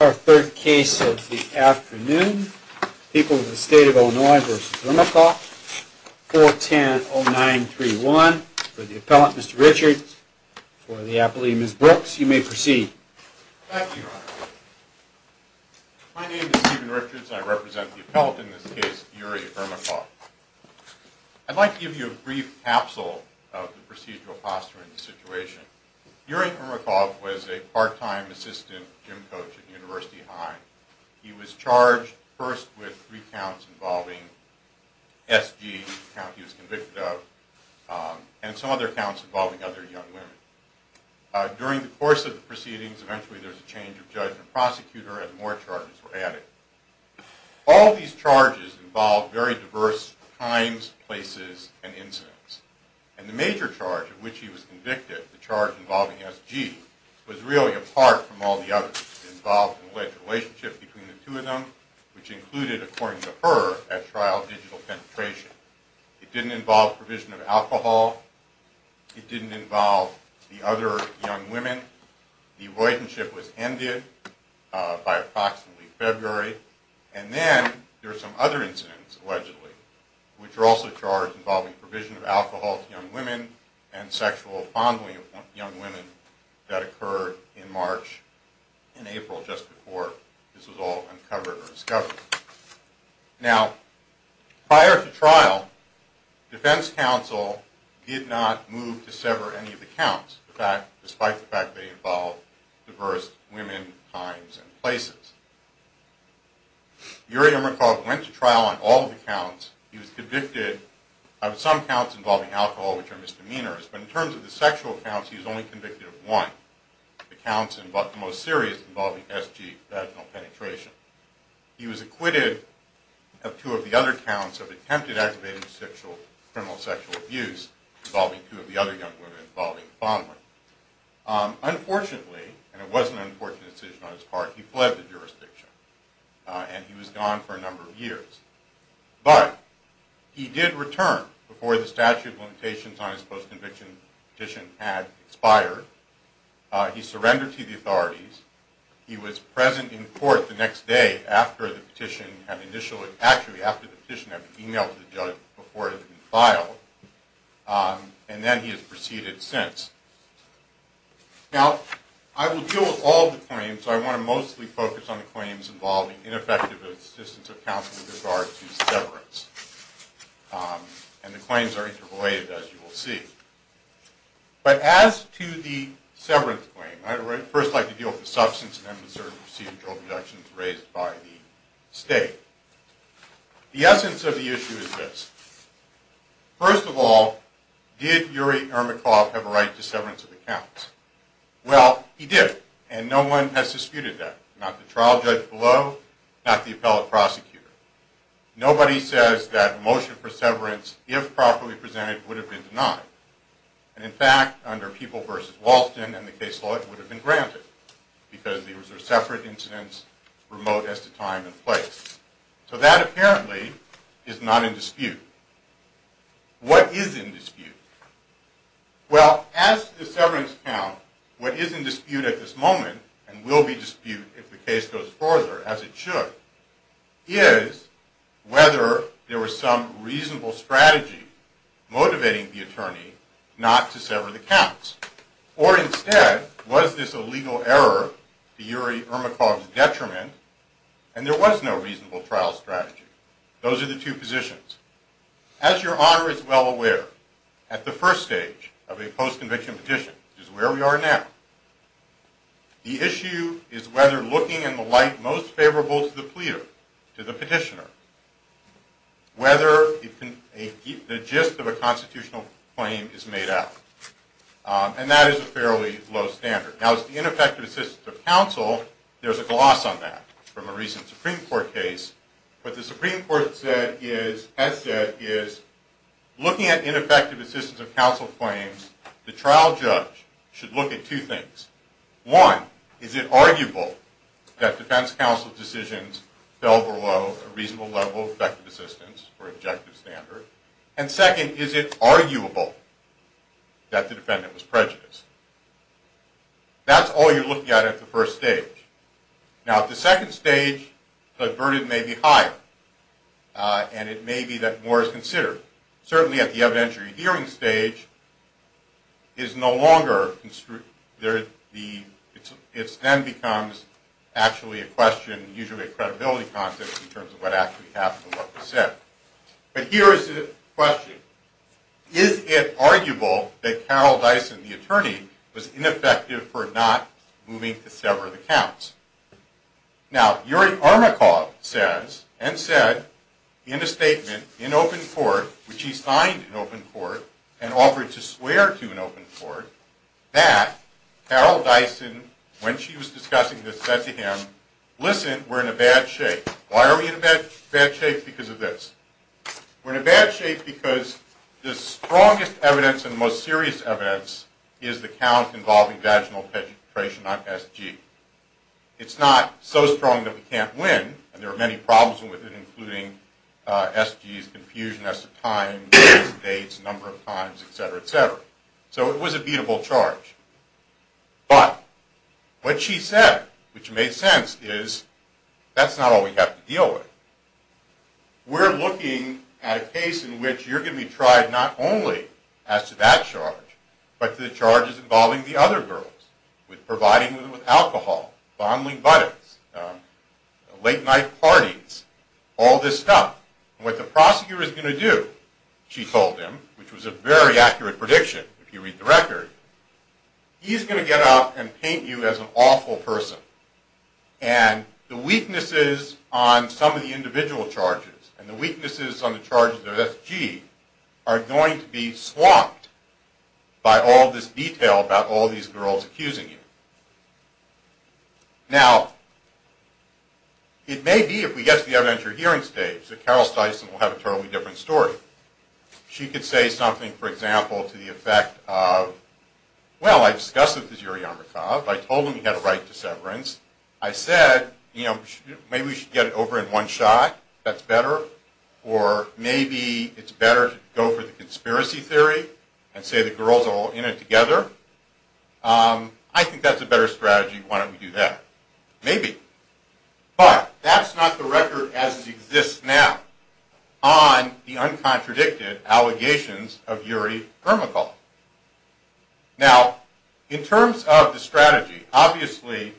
Our third case of the afternoon, People of the State of Illinois v. Ermakov, 410-0931. For the appellant, Mr. Richards, for the appellee, Ms. Brooks, you may proceed. Thank you, Your Honor. My name is Stephen Richards and I represent the appellant in this case, Yuri Ermakov. I'd like to give you a brief capsule of the procedural posture in this situation. Yuri Ermakov was a part-time assistant gym coach at University High. He was charged first with three counts involving SG, the count he was convicted of, and some other counts involving other young women. During the course of the proceedings, eventually there was a change of judge and prosecutor, and more charges were added. All of these charges involved very diverse times, places, and incidents. And the major charge of which he was convicted, the charge involving SG, was really apart from all the others. It involved an alleged relationship between the two of them, which included, according to her, at trial, digital penetration. It didn't involve provision of alcohol. It didn't involve the other young women. The relationship was ended by approximately February. And then there were some other incidents, allegedly, which were also charged involving provision of alcohol to young women and sexual fondling of young women that occurred in March and April, just before this was all uncovered or discovered. Now, prior to trial, Defense Counsel did not move to sever any of the counts, despite the fact they involved diverse women, times, and places. Yuri Emmerichov went to trial on all of the counts. He was convicted of some counts involving alcohol, which are misdemeanors, but in terms of the sexual counts, he was only convicted of one, the counts, the most serious, involving SG, vaginal penetration. He was acquitted of two of the other counts of attempted aggravated sexual, criminal sexual abuse, involving two of the other young women, involving fondling. Unfortunately, and it was an unfortunate decision on his part, he fled the jurisdiction, and he was gone for a number of years. But he did return before the statute of limitations on his post-conviction petition had expired. He surrendered to the authorities. He was present in court the next day after the petition had initially, actually, after the petition had been emailed to the judge before it had been filed. And then he has proceeded since. Now, I will deal with all the claims, so I want to mostly focus on the claims involving ineffective assistance of counsel with regard to severance. And the claims are interrelated, as you will see. But as to the severance claim, I would first like to deal with the substance and unreserved procedural objections raised by the State. The essence of the issue is this. First of all, did Yuri Ermakov have a right to severance of the counts? Well, he did, and no one has disputed that. Not the trial judge below, not the appellate prosecutor. Nobody says that a motion for severance, if properly presented, would have been denied. And in fact, under People v. Walston, and the case law, it would have been granted, because these were separate incidents, remote as to time and place. So that apparently is not in dispute. What is in dispute? Well, as to the severance count, what is in dispute at this moment, and will be dispute if the case goes further, as it should, is whether there was some reasonable strategy motivating the attorney not to sever the counts. Or instead, was this a legal error to Yuri Ermakov's detriment, and there was no reasonable trial strategy. Those are the two positions. As Your Honor is well aware, at the first stage of a post-conviction petition, which is where we are now, the issue is whether looking in the light most favorable to the pleader, to the petitioner, whether the gist of a constitutional claim is made out. And that is a fairly low standard. Now, as to the ineffective assistance of counsel, there is a gloss on that from a recent Supreme Court case. What the Supreme Court has said is, looking at ineffective assistance of counsel claims, the trial judge should look at two things. One, is it arguable that defense counsel's decisions fell below a reasonable level of effective assistance, or objective standard? And second, is it arguable that the defendant was prejudiced? That's all you're looking at at the first stage. Now, at the second stage, the burden may be higher, and it may be that more is considered. Certainly at the evidentiary hearing stage, it then becomes actually a question, usually a credibility contest in terms of what actually happened and what was said. But here is the question. Is it arguable that Carol Dyson, the attorney, was ineffective for not moving to sever the counts? Now, Yuri Armakov says, and said in a statement in open court, which he signed in open court, and offered to swear to in open court, that Carol Dyson, when she was discussing this, said to him, listen, we're in a bad shape. Why are we in a bad shape? Because of this. We're in a bad shape because the strongest evidence and the most serious evidence is the count involving vaginal penetration on SG. It's not so strong that we can't win, and there are many problems with it, including SG's confusion as to time, dates, number of times, et cetera, et cetera. So it was a beatable charge. But what she said, which made sense, is that's not all we have to deal with. We're looking at a case in which you're going to be tried not only as to that charge, but to the charges involving the other girls, with providing them with alcohol, fondling buttocks, late night parties, all this stuff. What the prosecutor is going to do, she told him, he's going to get up and paint you as an awful person. And the weaknesses on some of the individual charges and the weaknesses on the charges of SG are going to be swamped by all this detail about all these girls accusing you. Now, it may be, if we get to the evidentiary hearing stage, that Carol Dyson will have a totally different story. She could say something, for example, to the effect of, well, I discussed it with Yuriy Armakov. I told him he had a right to severance. I said, you know, maybe we should get it over in one shot. That's better. Or maybe it's better to go for the conspiracy theory and say the girls are all in it together. I think that's a better strategy. Why don't we do that? Maybe. But that's not the record as it exists now on the uncontradicted allegations of Yuriy Armakov. Now, in terms of the strategy, obviously,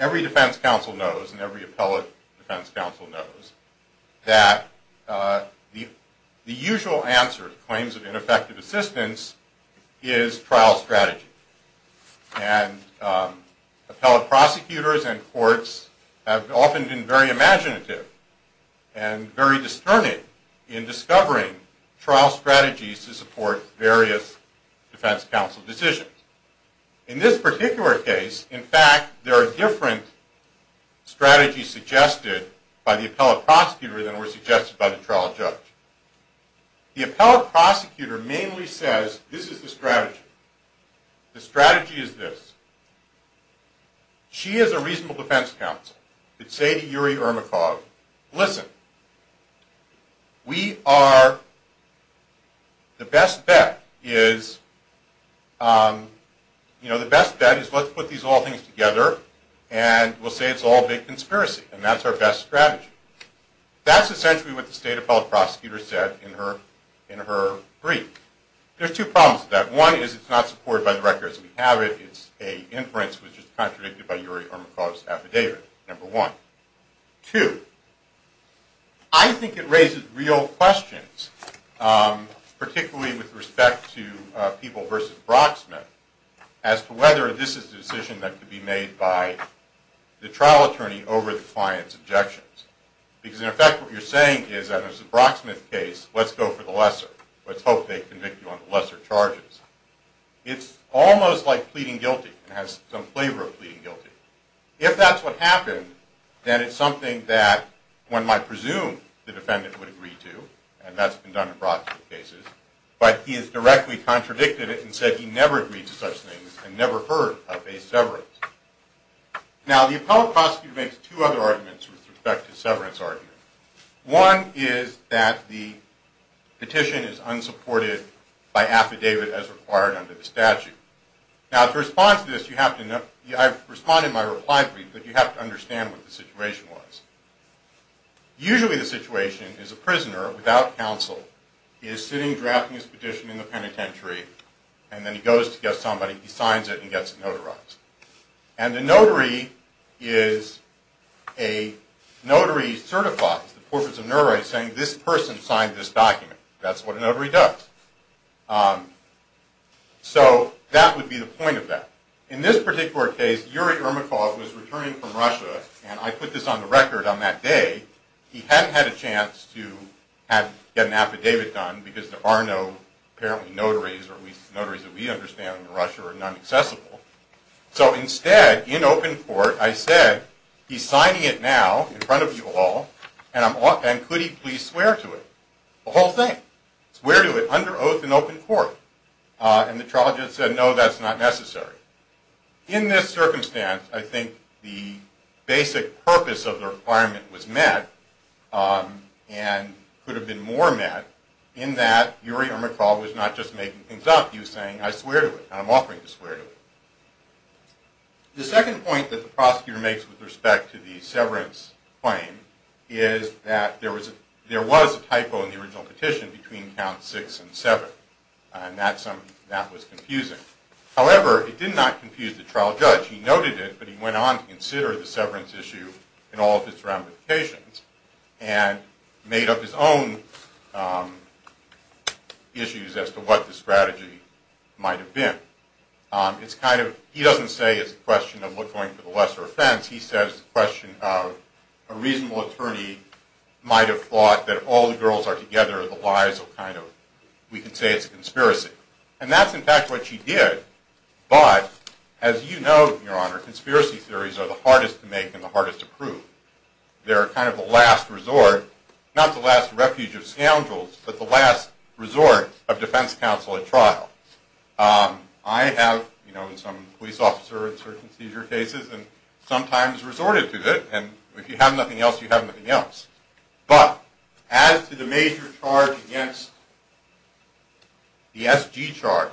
every defense counsel knows and every appellate defense counsel knows that the usual answer to claims of ineffective assistance is trial strategy. And appellate prosecutors and courts have often been very imaginative and very discerning in discovering trial strategies to support various defense counsel decisions. In this particular case, in fact, there are different strategies suggested by the appellate prosecutor than were suggested by the trial judge. The appellate prosecutor mainly says, this is the strategy. The strategy is this. She as a reasonable defense counsel could say to Yuriy Armakov, listen, we are... the best bet is... you know, the best bet is let's put these all things together and we'll say it's all a big conspiracy. And that's our best strategy. That's essentially what the state appellate prosecutor said in her brief. There's two problems with that. One is it's not supported by the record as we have it. It's an inference which is contradicted by Yuriy Armakov's affidavit, number one. Two, I think it raises real questions, particularly with respect to People v. Brocksmith, as to whether this is a decision that could be made by the trial attorney over the client's objections. Because in effect, what you're saying is that in a Brocksmith case, let's go for the lesser. Let's hope they convict you on the lesser charges. It's almost like pleading guilty. It has some flavor of pleading guilty. If that's what happened, then it's something that one might presume the defendant would agree to, and that's been done in Brocksmith cases. But he has directly contradicted it and said he never agreed to such things and never heard of a severance. Now, the appellate prosecutor makes two other arguments with respect to the severance argument. One is that the petition is unsupported by affidavit as required under the statute. Now, to respond to this, I've responded in my reply brief, but you have to understand what the situation was. Usually the situation is a prisoner without counsel is sitting, drafting his petition in the penitentiary, and then he goes to get somebody, he signs it, and gets it notarized. And the notary is a notary certified, the portraits of notaries, saying this person signed this document. That's what a notary does. So that would be the point of that. In this particular case, Yuri Ermakov was returning from Russia, and I put this on the record on that day. He hadn't had a chance to get an affidavit done, because there are no, apparently, notaries, or at least notaries that we understand in Russia are non-accessible. So instead, in open court, I said, he's signing it now, in front of you all, and could he please swear to it? The whole thing. Swear to it, under oath in open court. And the trial judge said, no, that's not necessary. In this circumstance, I think the basic purpose of the requirement was met, and could have been more met, in that Yuri Ermakov was not just making things up, he was saying, I swear to it, and I'm offering to swear to it. The second point that the prosecutor makes with respect to the severance claim is that there was a typo in the original petition between counts 6 and 7. And that was confusing. However, it did not confuse the trial judge. He noted it, but he went on to consider the severance issue and all of its ramifications, and made up his own issues as to what the strategy might have been. It's kind of, he doesn't say it's a question of going for the lesser offense, he says it's a question of, a reasonable attorney might have thought that all the girls are together, the lies are kind of, we can say it's a conspiracy. And that's, in fact, what she did. But, as you know, Your Honor, conspiracy theories are the hardest to make and the hardest to prove. They're kind of the last resort, not the last refuge of scoundrels, but the last resort of defense counsel at trial. I have, you know, been some police officer in certain seizure cases, and sometimes resorted to it, and if you have nothing else, you have nothing else. But, as to the major charge against the SG charge,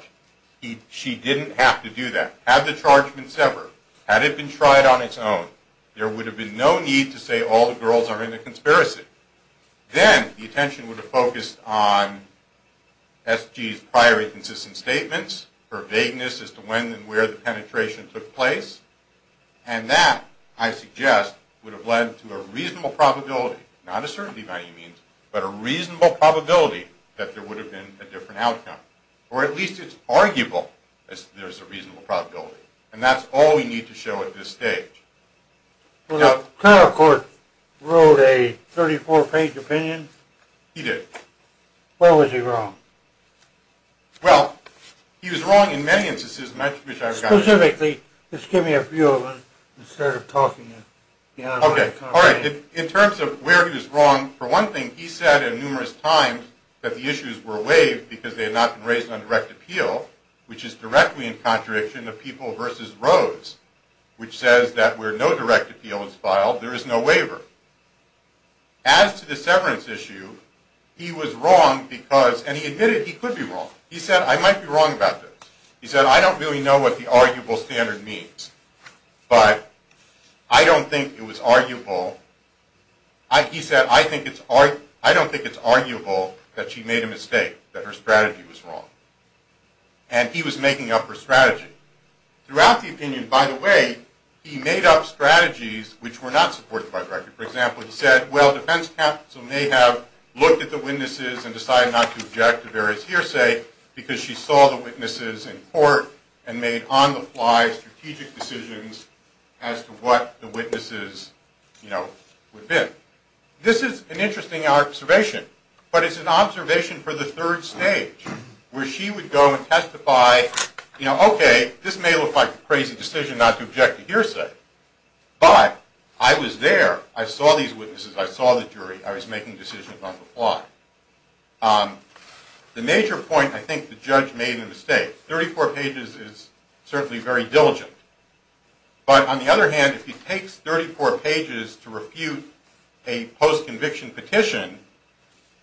she didn't have to do that. Had the charge been severed, had it been tried on its own, there would have been no need to say all the girls are in a conspiracy. Then the attention would have focused on SG's prior inconsistent statements, her vagueness as to when and where the penetration took place, and that, I suggest, would have led to a reasonable probability, not a certainty by any means, but a reasonable probability that there would have been a different outcome. Or at least it's arguable that there's a reasonable probability. And that's all we need to show at this stage. So the clerk wrote a 34-page opinion? He did. What was he wrong? Well, he was wrong in many instances, and I wish I had gotten there. Specifically, just give me a few of them instead of talking. Okay, all right. In terms of where he was wrong, for one thing, he said numerous times that the issues were waived because they had not been raised on direct appeal, which is directly in contradiction of People v. Rose, which says that where no direct appeal is filed, there is no waiver. As to the severance issue, he was wrong because, and he admitted he could be wrong. He said, I might be wrong about this. He said, I don't really know what the arguable standard means, but I don't think it was arguable. He said, I don't think it's arguable that she made a mistake, that her strategy was wrong. And he was making up her strategy. Throughout the opinion, by the way, he made up strategies which were not supported by direct appeal. For example, he said, well, defense counsel may have looked at the witnesses and decided not to object to various hearsay because she saw the witnesses in court and made on-the-fly strategic decisions as to what the witnesses would bid. This is an interesting observation, but it's an observation for the third stage where she would go and testify, okay, this may look like a crazy decision not to object to hearsay, but I was there. I saw these witnesses. I saw the jury. I was making decisions on the fly. The major point, I think the judge made a mistake. Thirty-four pages is certainly very diligent. But on the other hand, if he takes 34 pages to refute a post-conviction petition,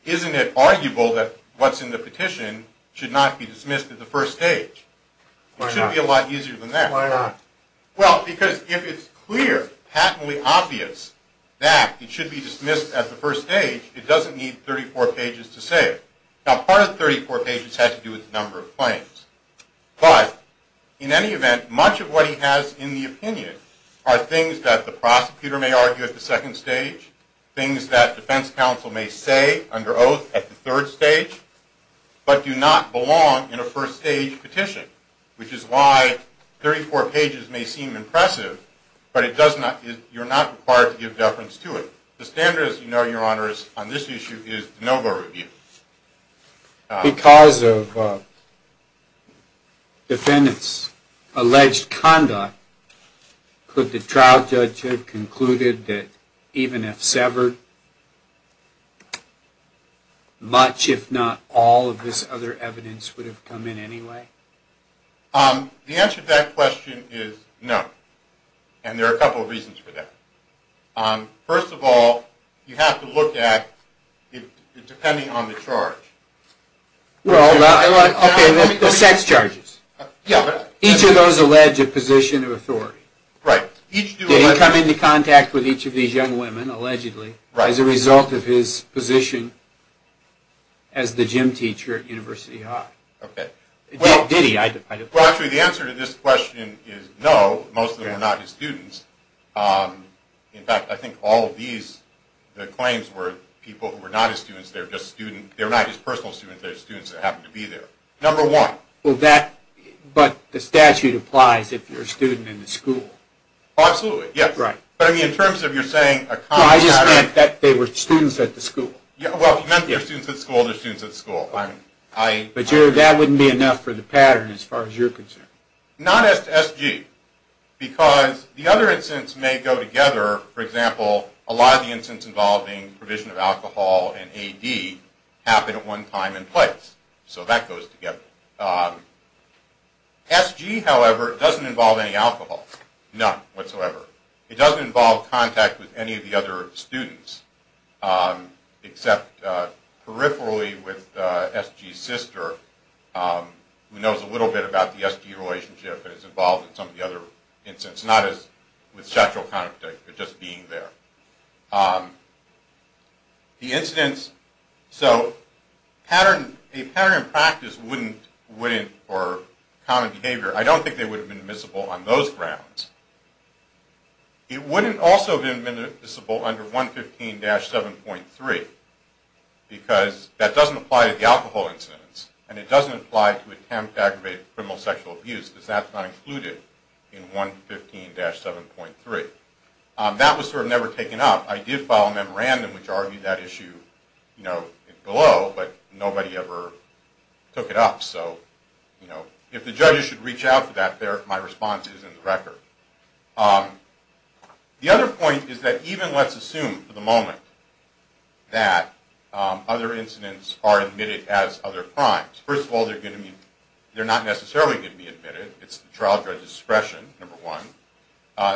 isn't it arguable that what's in the petition should not be dismissed at the first stage? Why not? It should be a lot easier than that. Why not? Well, because if it's clear, patently obvious, that it should be dismissed at the first stage, it doesn't need 34 pages to say it. Now, part of 34 pages has to do with the number of claims. But in any event, much of what he has in the opinion are things that the prosecutor may argue at the second stage, things that defense counsel may say under oath at the third stage, but do not belong in a first-stage petition, which is why 34 pages may seem impressive, but you're not required to give deference to it. The standard, as you know, Your Honor, on this issue is de novo review. Because of defendants' alleged conduct, could the trial judge have concluded that even if severed, much if not all of this other evidence would have come in anyway? The answer to that question is no. And there are a couple of reasons for that. First of all, you have to look at, depending on the charge. Well, okay, the sex charges. Yeah. Each of those allege a position of authority. Right. Did he come into contact with each of these young women, allegedly, as a result of his position as the gym teacher at University High? Okay. Did he? Well, actually, the answer to this question is no. Most of them were not his students. In fact, I think all of these claims were people who were not his students. They were not his personal students. They were students that happened to be there. Number one. But the statute applies if you're a student in the school. Absolutely, yes. But, I mean, in terms of you're saying a common pattern. No, I just meant that they were students at the school. Well, you mentioned they were students at school. They're students at school. But that wouldn't be enough for the pattern as far as you're concerned. Not as SG. Because the other instance may go together. For example, a lot of the instance involving provision of alcohol and AD happened at one time and place. So that goes together. SG, however, doesn't involve any alcohol. None whatsoever. It doesn't involve contact with any of the other students, except peripherally with SG's sister, who knows a little bit about the SG relationship and is involved in some of the other instances. Not as with sexual contact, but just being there. The incidents. So a pattern in practice wouldn't, or common behavior, I don't think they would have been admissible on those grounds. It wouldn't also have been admissible under 115-7.3 because that doesn't apply to the alcohol incidents. And it doesn't apply to attempt to aggravate criminal sexual abuse because that's not included in 115-7.3. That was sort of never taken up. I did file a memorandum which argued that issue below, but nobody ever took it up. So if the judges should reach out for that, my response is in the record. The other point is that even let's assume for the moment that other incidents are admitted as other crimes. First of all, they're not necessarily going to be admitted. It's the trial judge's discretion, number one.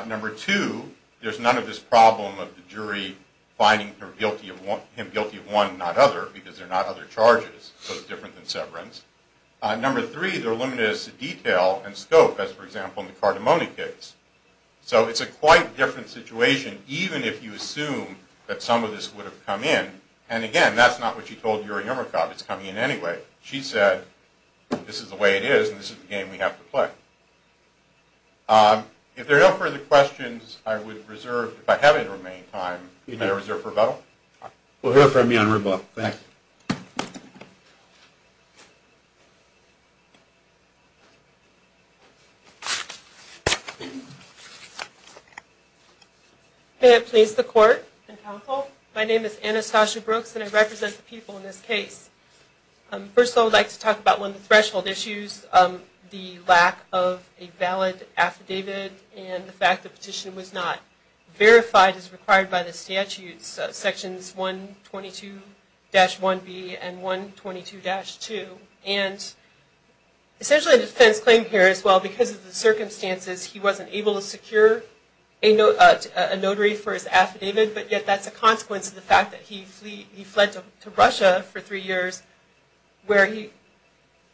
Number two, there's none of this problem of the jury finding him guilty of one and not other because they're not other charges, so it's different than severance. Number three, there are limited as to detail and scope as, for example, in the Cardamone case. So it's a quite different situation even if you assume that some of this would have come in. And again, that's not what you told Yuri Yermakov, it's coming in anyway. She said, this is the way it is and this is the game we have to play. If there are no further questions, I would reserve, if I have any remaining time, I reserve for Rebecca. We'll hear from you on rebuttal. May it please the court and counsel, my name is Anastasia Brooks and I represent the people in this case. First of all, I would like to talk about one of the threshold issues, the lack of a valid affidavit and the fact the petition was not verified as required by the statutes, sections 122-1B and 122-2. And essentially a defense claim here as well because of the circumstances, he wasn't able to secure a notary for his affidavit, but yet that's a consequence of the fact that he fled to Russia for three years where he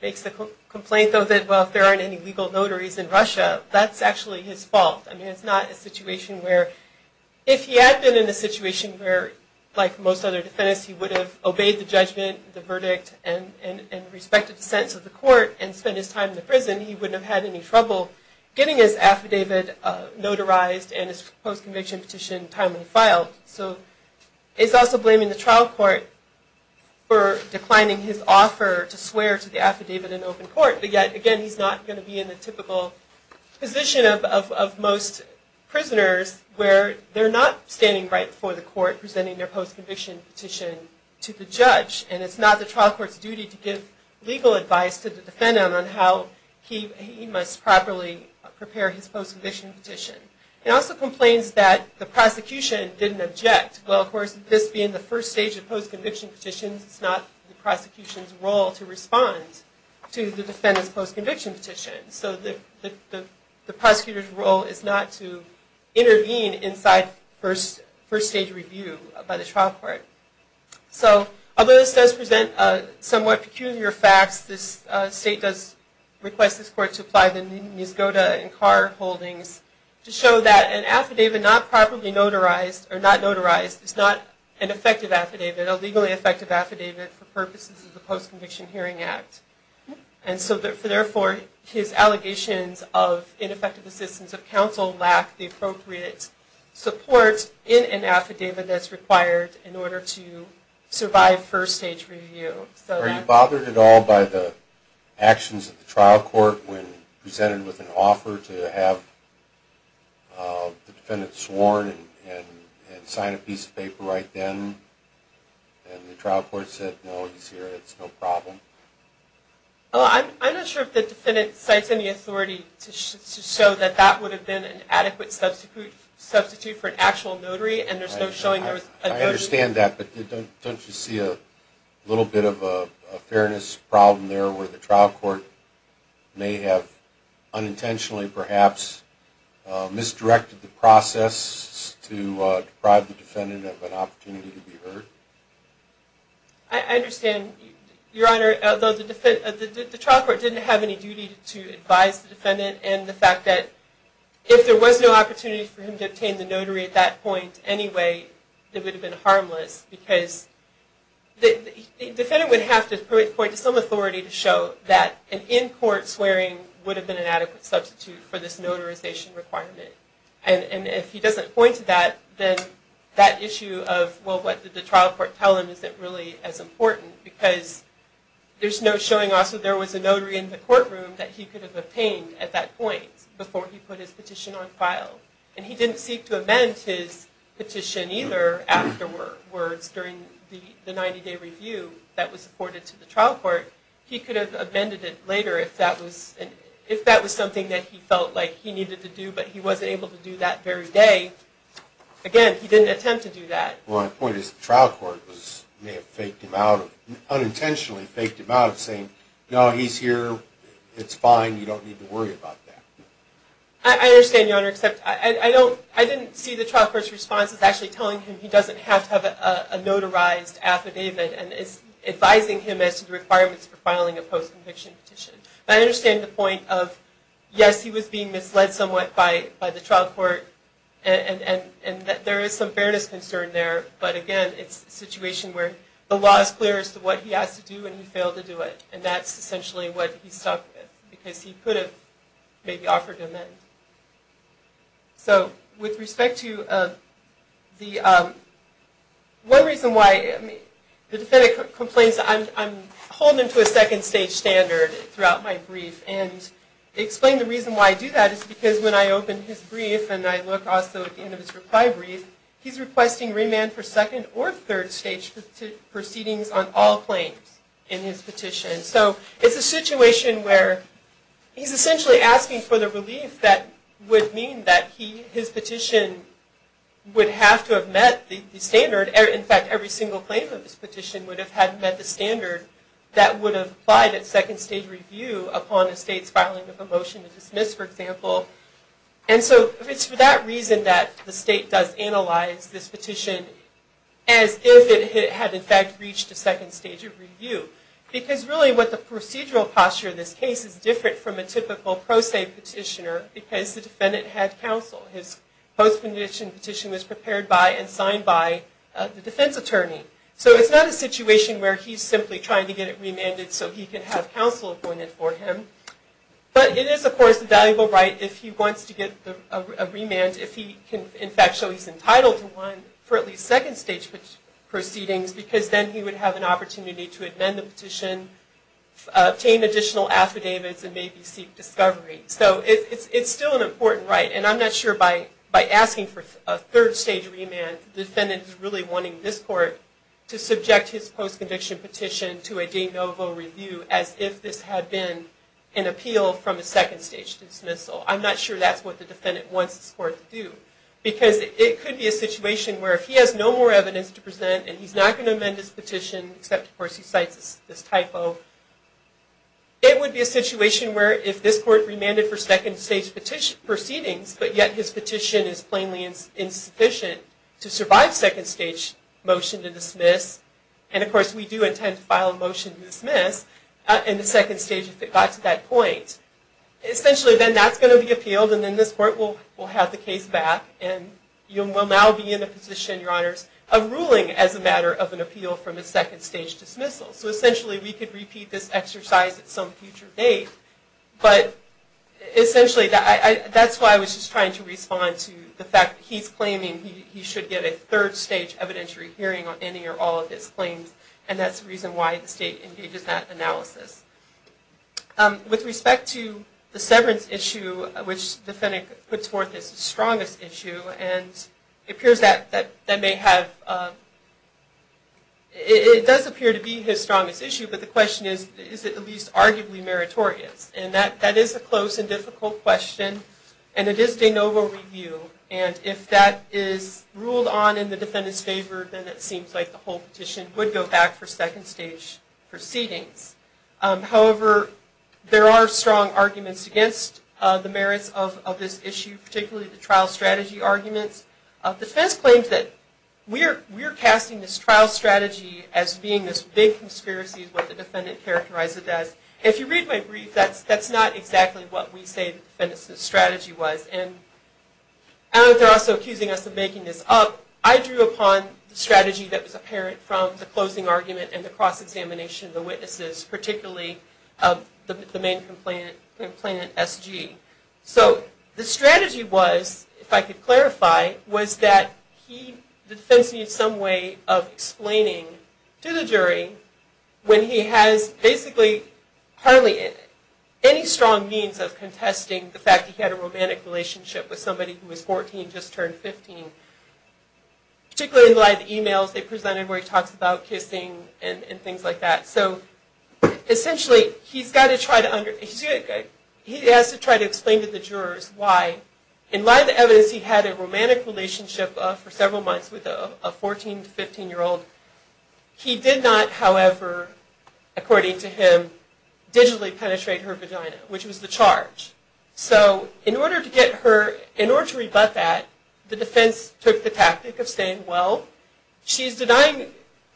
makes the complaint though that, well, if there aren't any legal notaries in Russia, that's actually his fault. I mean, it's not a situation where, if he had been in a situation where, like most other defendants, he would have obeyed the judgment, the verdict, and respected the sense of the court and spent his time in the prison, he wouldn't have had any trouble getting his affidavit notarized and his post-conviction petition timely filed. So it's also blaming the trial court for declining his offer to swear to the affidavit in open court, but yet, again, he's not going to be in the typical position of most prisoners where they're not standing right before the court presenting their post-conviction petition to the judge. And it's not the trial court's duty to give legal advice to the defendant on how he must properly prepare his post-conviction petition. It also complains that the prosecution didn't object. Well, of course, this being the first stage of post-conviction petitions, it's not the prosecution's role to respond to the defendant's post-conviction petition. So the prosecutor's role is not to intervene inside first-stage review by the trial court. So, although this does present somewhat peculiar facts, this state does request this court to apply the Nisgoda and Carr holdings to show that an affidavit not properly notarized or not notarized is not an effective affidavit, a legally effective affidavit, for purposes of the Post-Conviction Hearing Act. And so, therefore, his allegations of ineffective assistance of counsel lack the appropriate support in an affidavit that's required in order to survive first-stage review. Are you bothered at all by the actions of the trial court when presented with an offer to have the defendant sworn and sign a piece of paper right then, and the trial court said, no, he's here, it's no problem? I'm not sure if the defendant cites any authority to show that that would have been an adequate substitute for an actual notary, and there's no showing there was a notary. I understand that, but don't you see a little bit of a fairness problem there where the trial court may have unintentionally, perhaps, misdirected the process to deprive the defendant of an opportunity to be heard? I understand, Your Honor, although the trial court didn't have any duty to advise the defendant and the fact that if there was no opportunity for him to obtain the notary at that point anyway, it would have been harmless because the defendant would have to point to some authority to show that an in-court swearing would have been an adequate substitute for this notarization requirement. And if he doesn't point to that, then that issue of, well, what did the trial court tell him isn't really as important because there's no showing also there was a notary in the courtroom that he could have obtained at that point before he put his petition on file. And he didn't seek to amend his petition either afterwards during the 90-day review that was reported to the trial court. He could have amended it later if that was something that he felt like he needed to do, but he wasn't able to do that very day. Again, he didn't attempt to do that. Well, my point is the trial court may have faked him out, unintentionally faked him out of saying, no, he's here, it's fine, you don't need to worry about that. I understand, Your Honor, except I didn't see the trial court's responses actually telling him he doesn't have to have a notarized affidavit and advising him as to the requirements for filing a post-conviction petition. I understand the point of, yes, he was being misled somewhat by the trial court and that there is some fairness concern there, but again, it's a situation where the law is clear as to what he has to do and he failed to do it, and that's essentially what he's stuck with because he could have maybe offered him in. So, with respect to the one reason why the defendant complains that I'm holding him to a second stage standard throughout my brief and explain the reason why I do that is because when I open his brief and I look also at the end of his reply brief, he's requesting remand for second or third stage proceedings on all claims in his petition. So, it's a situation where he's essentially asking for the relief that would mean that his petition would have to have met the standard. In fact, every single claim of his petition would have had met the standard that would have applied at second stage review upon a state's filing of a motion to dismiss, for example. And so, it's for that reason that the state does analyze this petition as if it had in fact reached a second stage of review because really what the procedural posture of this case is different from a typical pro se petitioner because the defendant had counsel. His post-condition petition was prepared by and signed by the defense attorney. So, it's not a situation where he's simply trying to get it remanded so he can have counsel appointed for him. But it is, of course, a valuable right if he wants to get a remand, if he can in fact show he's entitled to one for at least second stage proceedings because then he would have an opportunity to amend the petition, obtain additional affidavits, and maybe seek discovery. So, it's still an important right. And I'm not sure by asking for a third stage remand, the defendant is really wanting this court to subject his post-conviction petition to a de novo review as if this had been an appeal from a second stage dismissal. I'm not sure that's what the defendant wants this court to do and he's not going to amend his petition except, of course, he cites this typo. It would be a situation where if this court remanded for second stage proceedings, but yet his petition is plainly insufficient to survive second stage motion to dismiss. And, of course, we do intend to file a motion to dismiss in the second stage if it got to that point. Essentially, then that's going to be appealed and then this court will have the case back and you will now be in the position, Your Honors, of ruling as a matter of an appeal from a second stage dismissal. So, essentially, we could repeat this exercise at some future date. But, essentially, that's why I was just trying to respond to the fact that he's claiming he should get a third stage evidentiary hearing on any or all of his claims and that's the reason why the state engages that analysis. With respect to the severance issue, which the defendant puts forth as his strongest issue, and it appears that that may have... It does appear to be his strongest issue, but the question is, is it at least arguably meritorious? And that is a close and difficult question and it is de novo review. And if that is ruled on in the defendant's favor, then it seems like the whole petition would go back for second stage proceedings. However, there are strong arguments against the merits of this issue, particularly the trial strategy arguments. The defense claims that we're casting this trial strategy as being this big conspiracy is what the defendant characterized it as. If you read my brief, that's not exactly what we say the defendant's strategy was. And I don't know if they're also accusing us of making this up. I drew upon the strategy that was apparent from the closing argument and the cross-examination of the witnesses, particularly the main complainant, SG. So the strategy was, if I could clarify, was that the defense needed some way of explaining to the jury when he has basically hardly any strong means of contesting the fact that he had a romantic relationship with somebody who was 14 and just turned 15. Particularly in the light of the emails they presented where he talks about kissing and things like that. So essentially, he has to try to explain to the jurors why. In light of the evidence, he had a romantic relationship for several months with a 14-15 year old. He did not, however, according to him, digitally penetrate her vagina, which was the charge. So in order to rebut that, the defense took the tactic of saying, well, she's denying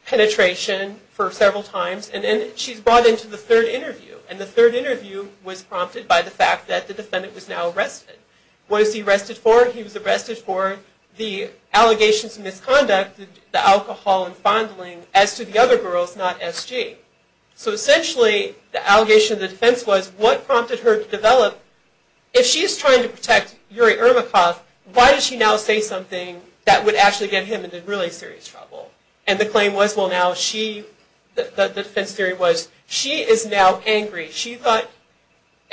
penetration for several times, and then she's brought into the third interview. And the third interview was prompted by the fact that the defendant was now arrested. What was he arrested for? He was arrested for the allegations of misconduct, the alcohol and fondling, as to the other girls, not SG. So essentially, the allegation of the defense was, what prompted her to develop, if she's trying to protect Yuri Irmakov, why does she now say something that would actually get him into really serious trouble? And the claim was, well, now she, the defense theory was, she is now angry.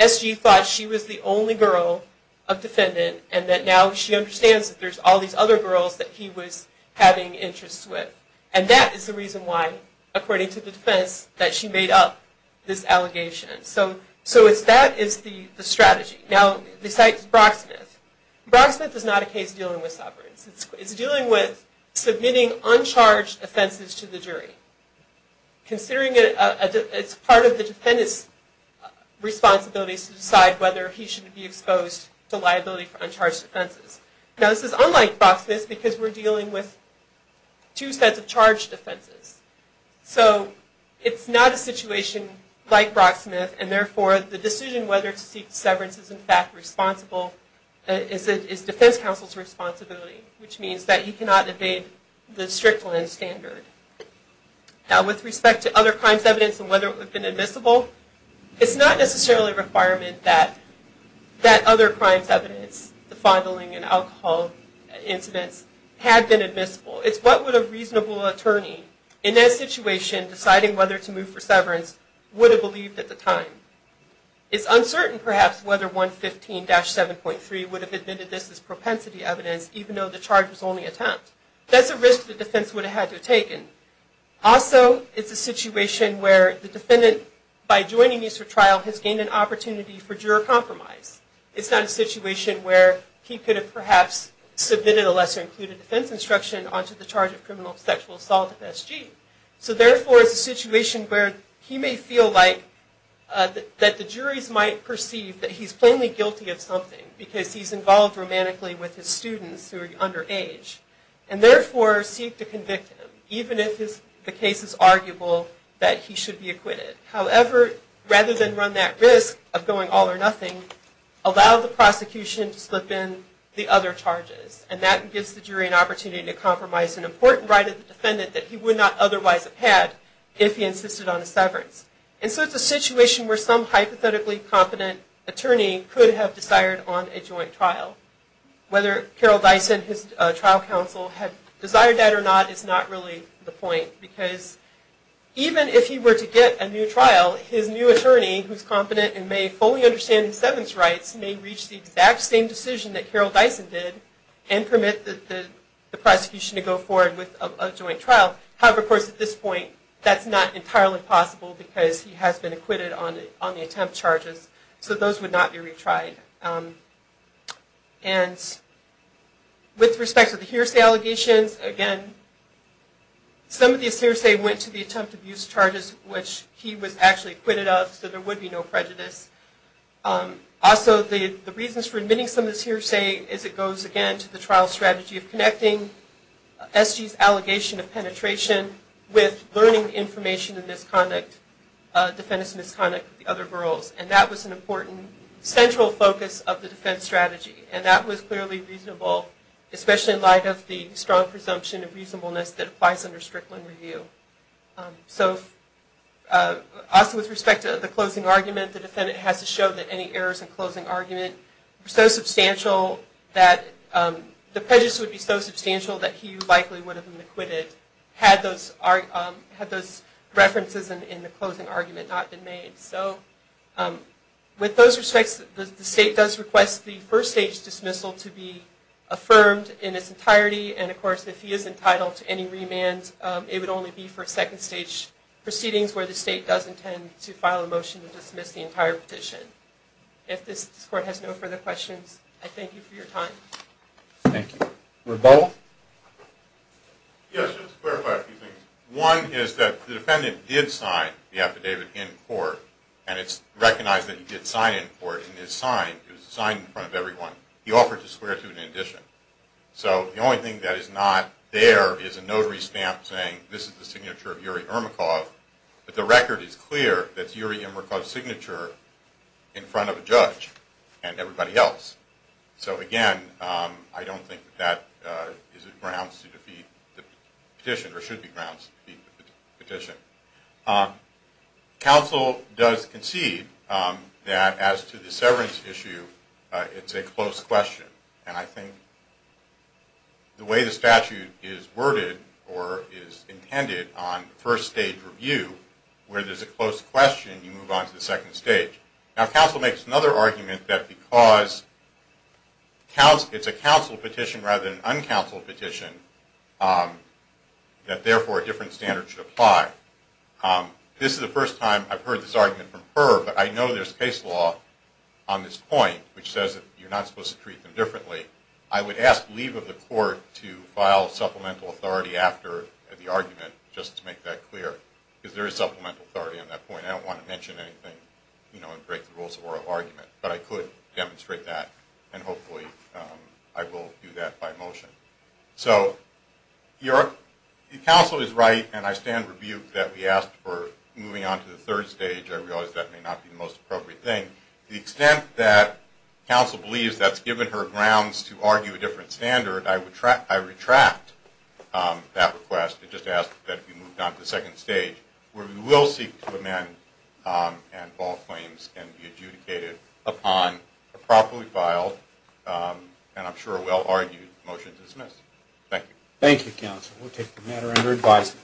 SG thought she was the only girl of defendant, and that now she understands that there's all these other girls that he was having interests with. And that is the reason why, according to the defense, that she made up this allegation. So that is the strategy. Now, besides Brocksmith, Brocksmith is not a case dealing with sovereigns. It's dealing with submitting uncharged offenses to the jury, considering it's part of the defendant's responsibility to decide whether he should be exposed to liability for uncharged offenses. Now, this is unlike Brocksmith, because we're dealing with two sets of charged offenses. So, it's not a situation like Brocksmith, and therefore, the decision whether to seek severance is, in fact, responsible, is defense counsel's responsibility, which means that he cannot evade the strict land standard. Now, with respect to other crimes evidence and whether it would have been admissible, it's not necessarily a requirement that other crimes evidence, the fondling and alcohol incidents, had been admissible. It's what would a reasonable attorney, in that situation, deciding whether to move for severance, would have believed at the time. It's uncertain, perhaps, whether 115-7.3 would have admitted this as propensity evidence, even though the charge was only attempt. That's a risk the defense would have had to have taken. Also, it's a situation where the defendant, by joining me for trial, has gained an opportunity for juror compromise. It's not a situation where he could have perhaps submitted a lesser-included defense instruction onto the charge of criminal sexual assault of SG. So, therefore, it's a situation where he may feel like, that the juries might perceive that he's plainly guilty of something, because he's involved romantically with his students who are underage, and therefore seek to convict him, even if the case is arguable that he should be acquitted. However, rather than run that risk of going all or nothing, allow the prosecution to slip in the other charges, and that gives the jury an opportunity to compromise an important right of the defendant that he would not otherwise have had if he insisted on a severance. And so it's a situation where some hypothetically competent attorney could have desired on a joint trial. Whether Carol Dyson, his trial counsel, had desired that or not is not really the point, because even if he were to get a new trial, his new attorney, who's competent and may fully understand his severance rights, may reach the exact same decision that Carol Dyson did, and permit the prosecution to go forward with a joint trial. However, of course, at this point, that's not entirely possible, because he has been acquitted on the attempt charges, so those would not be retried. And with respect to the hearsay allegations, again, some of these hearsay went to the attempt abuse charges, which he was actually acquitted of, so there would be no prejudice. Also, the reasons for admitting some of these hearsay is it goes, again, to the trial strategy of connecting S.G.'s allegation of penetration with learning information in misconduct, defendant's misconduct with the other girls. And that was an important central focus of the defense strategy, and that was clearly reasonable, especially in light of the strong presumption of reasonableness that applies under Strickland review. So, also with respect to the closing argument, the defendant has to show that any errors in closing argument were so substantial that the prejudice would be so substantial that he likely would have been acquitted had those references in the closing argument not been made. So, with those respects, the state does request the first stage dismissal to be affirmed in its entirety, and of course, if he is entitled to any remand, it would only be for second stage proceedings where the state does intend to file a motion to dismiss the entire petition. If this court has no further questions, I thank you for your time. Thank you. Rebel? Yes, just to clarify a few things. One is that the defendant did sign the affidavit in court, and it's recognized that he did sign it in court, and it's signed. It was signed in front of everyone. He offered to swear to it in addition. So, the only thing that is not there is a notary stamp saying, this is the signature of Yuri Irmakov. But the record is clear that it's Yuri Irmakov's signature in front of a judge and everybody else. So, again, I don't think that is grounds to defeat the petition, or should be grounds to defeat the petition. Counsel does concede that as to the severance issue, it's a close question. And I think the way the statute is worded or is intended on first stage review, where there's a close question, you move on to the second stage. Now, counsel makes another argument that because it's a counsel petition rather than an uncounseled petition, that therefore a different standard should apply. This is the first time I've heard this argument from her, but I know there's case law on this point, which says that you're not supposed to treat them differently. I would ask leave of the court to file supplemental authority after the argument, just to make that clear, because there is supplemental authority on that point. And I don't want to mention anything and break the rules of oral argument, but I could demonstrate that, and hopefully I will do that by motion. So, counsel is right, and I stand rebuked that we asked for moving on to the third stage. I realize that may not be the most appropriate thing. The extent that counsel believes that's given her grounds to argue a different standard, I retract that request and just ask that it be moved on to the second stage, where we will seek to amend and all claims can be adjudicated upon a properly filed and I'm sure well-argued motion to dismiss. Thank you. Thank you, counsel. We'll take the matter under advisement.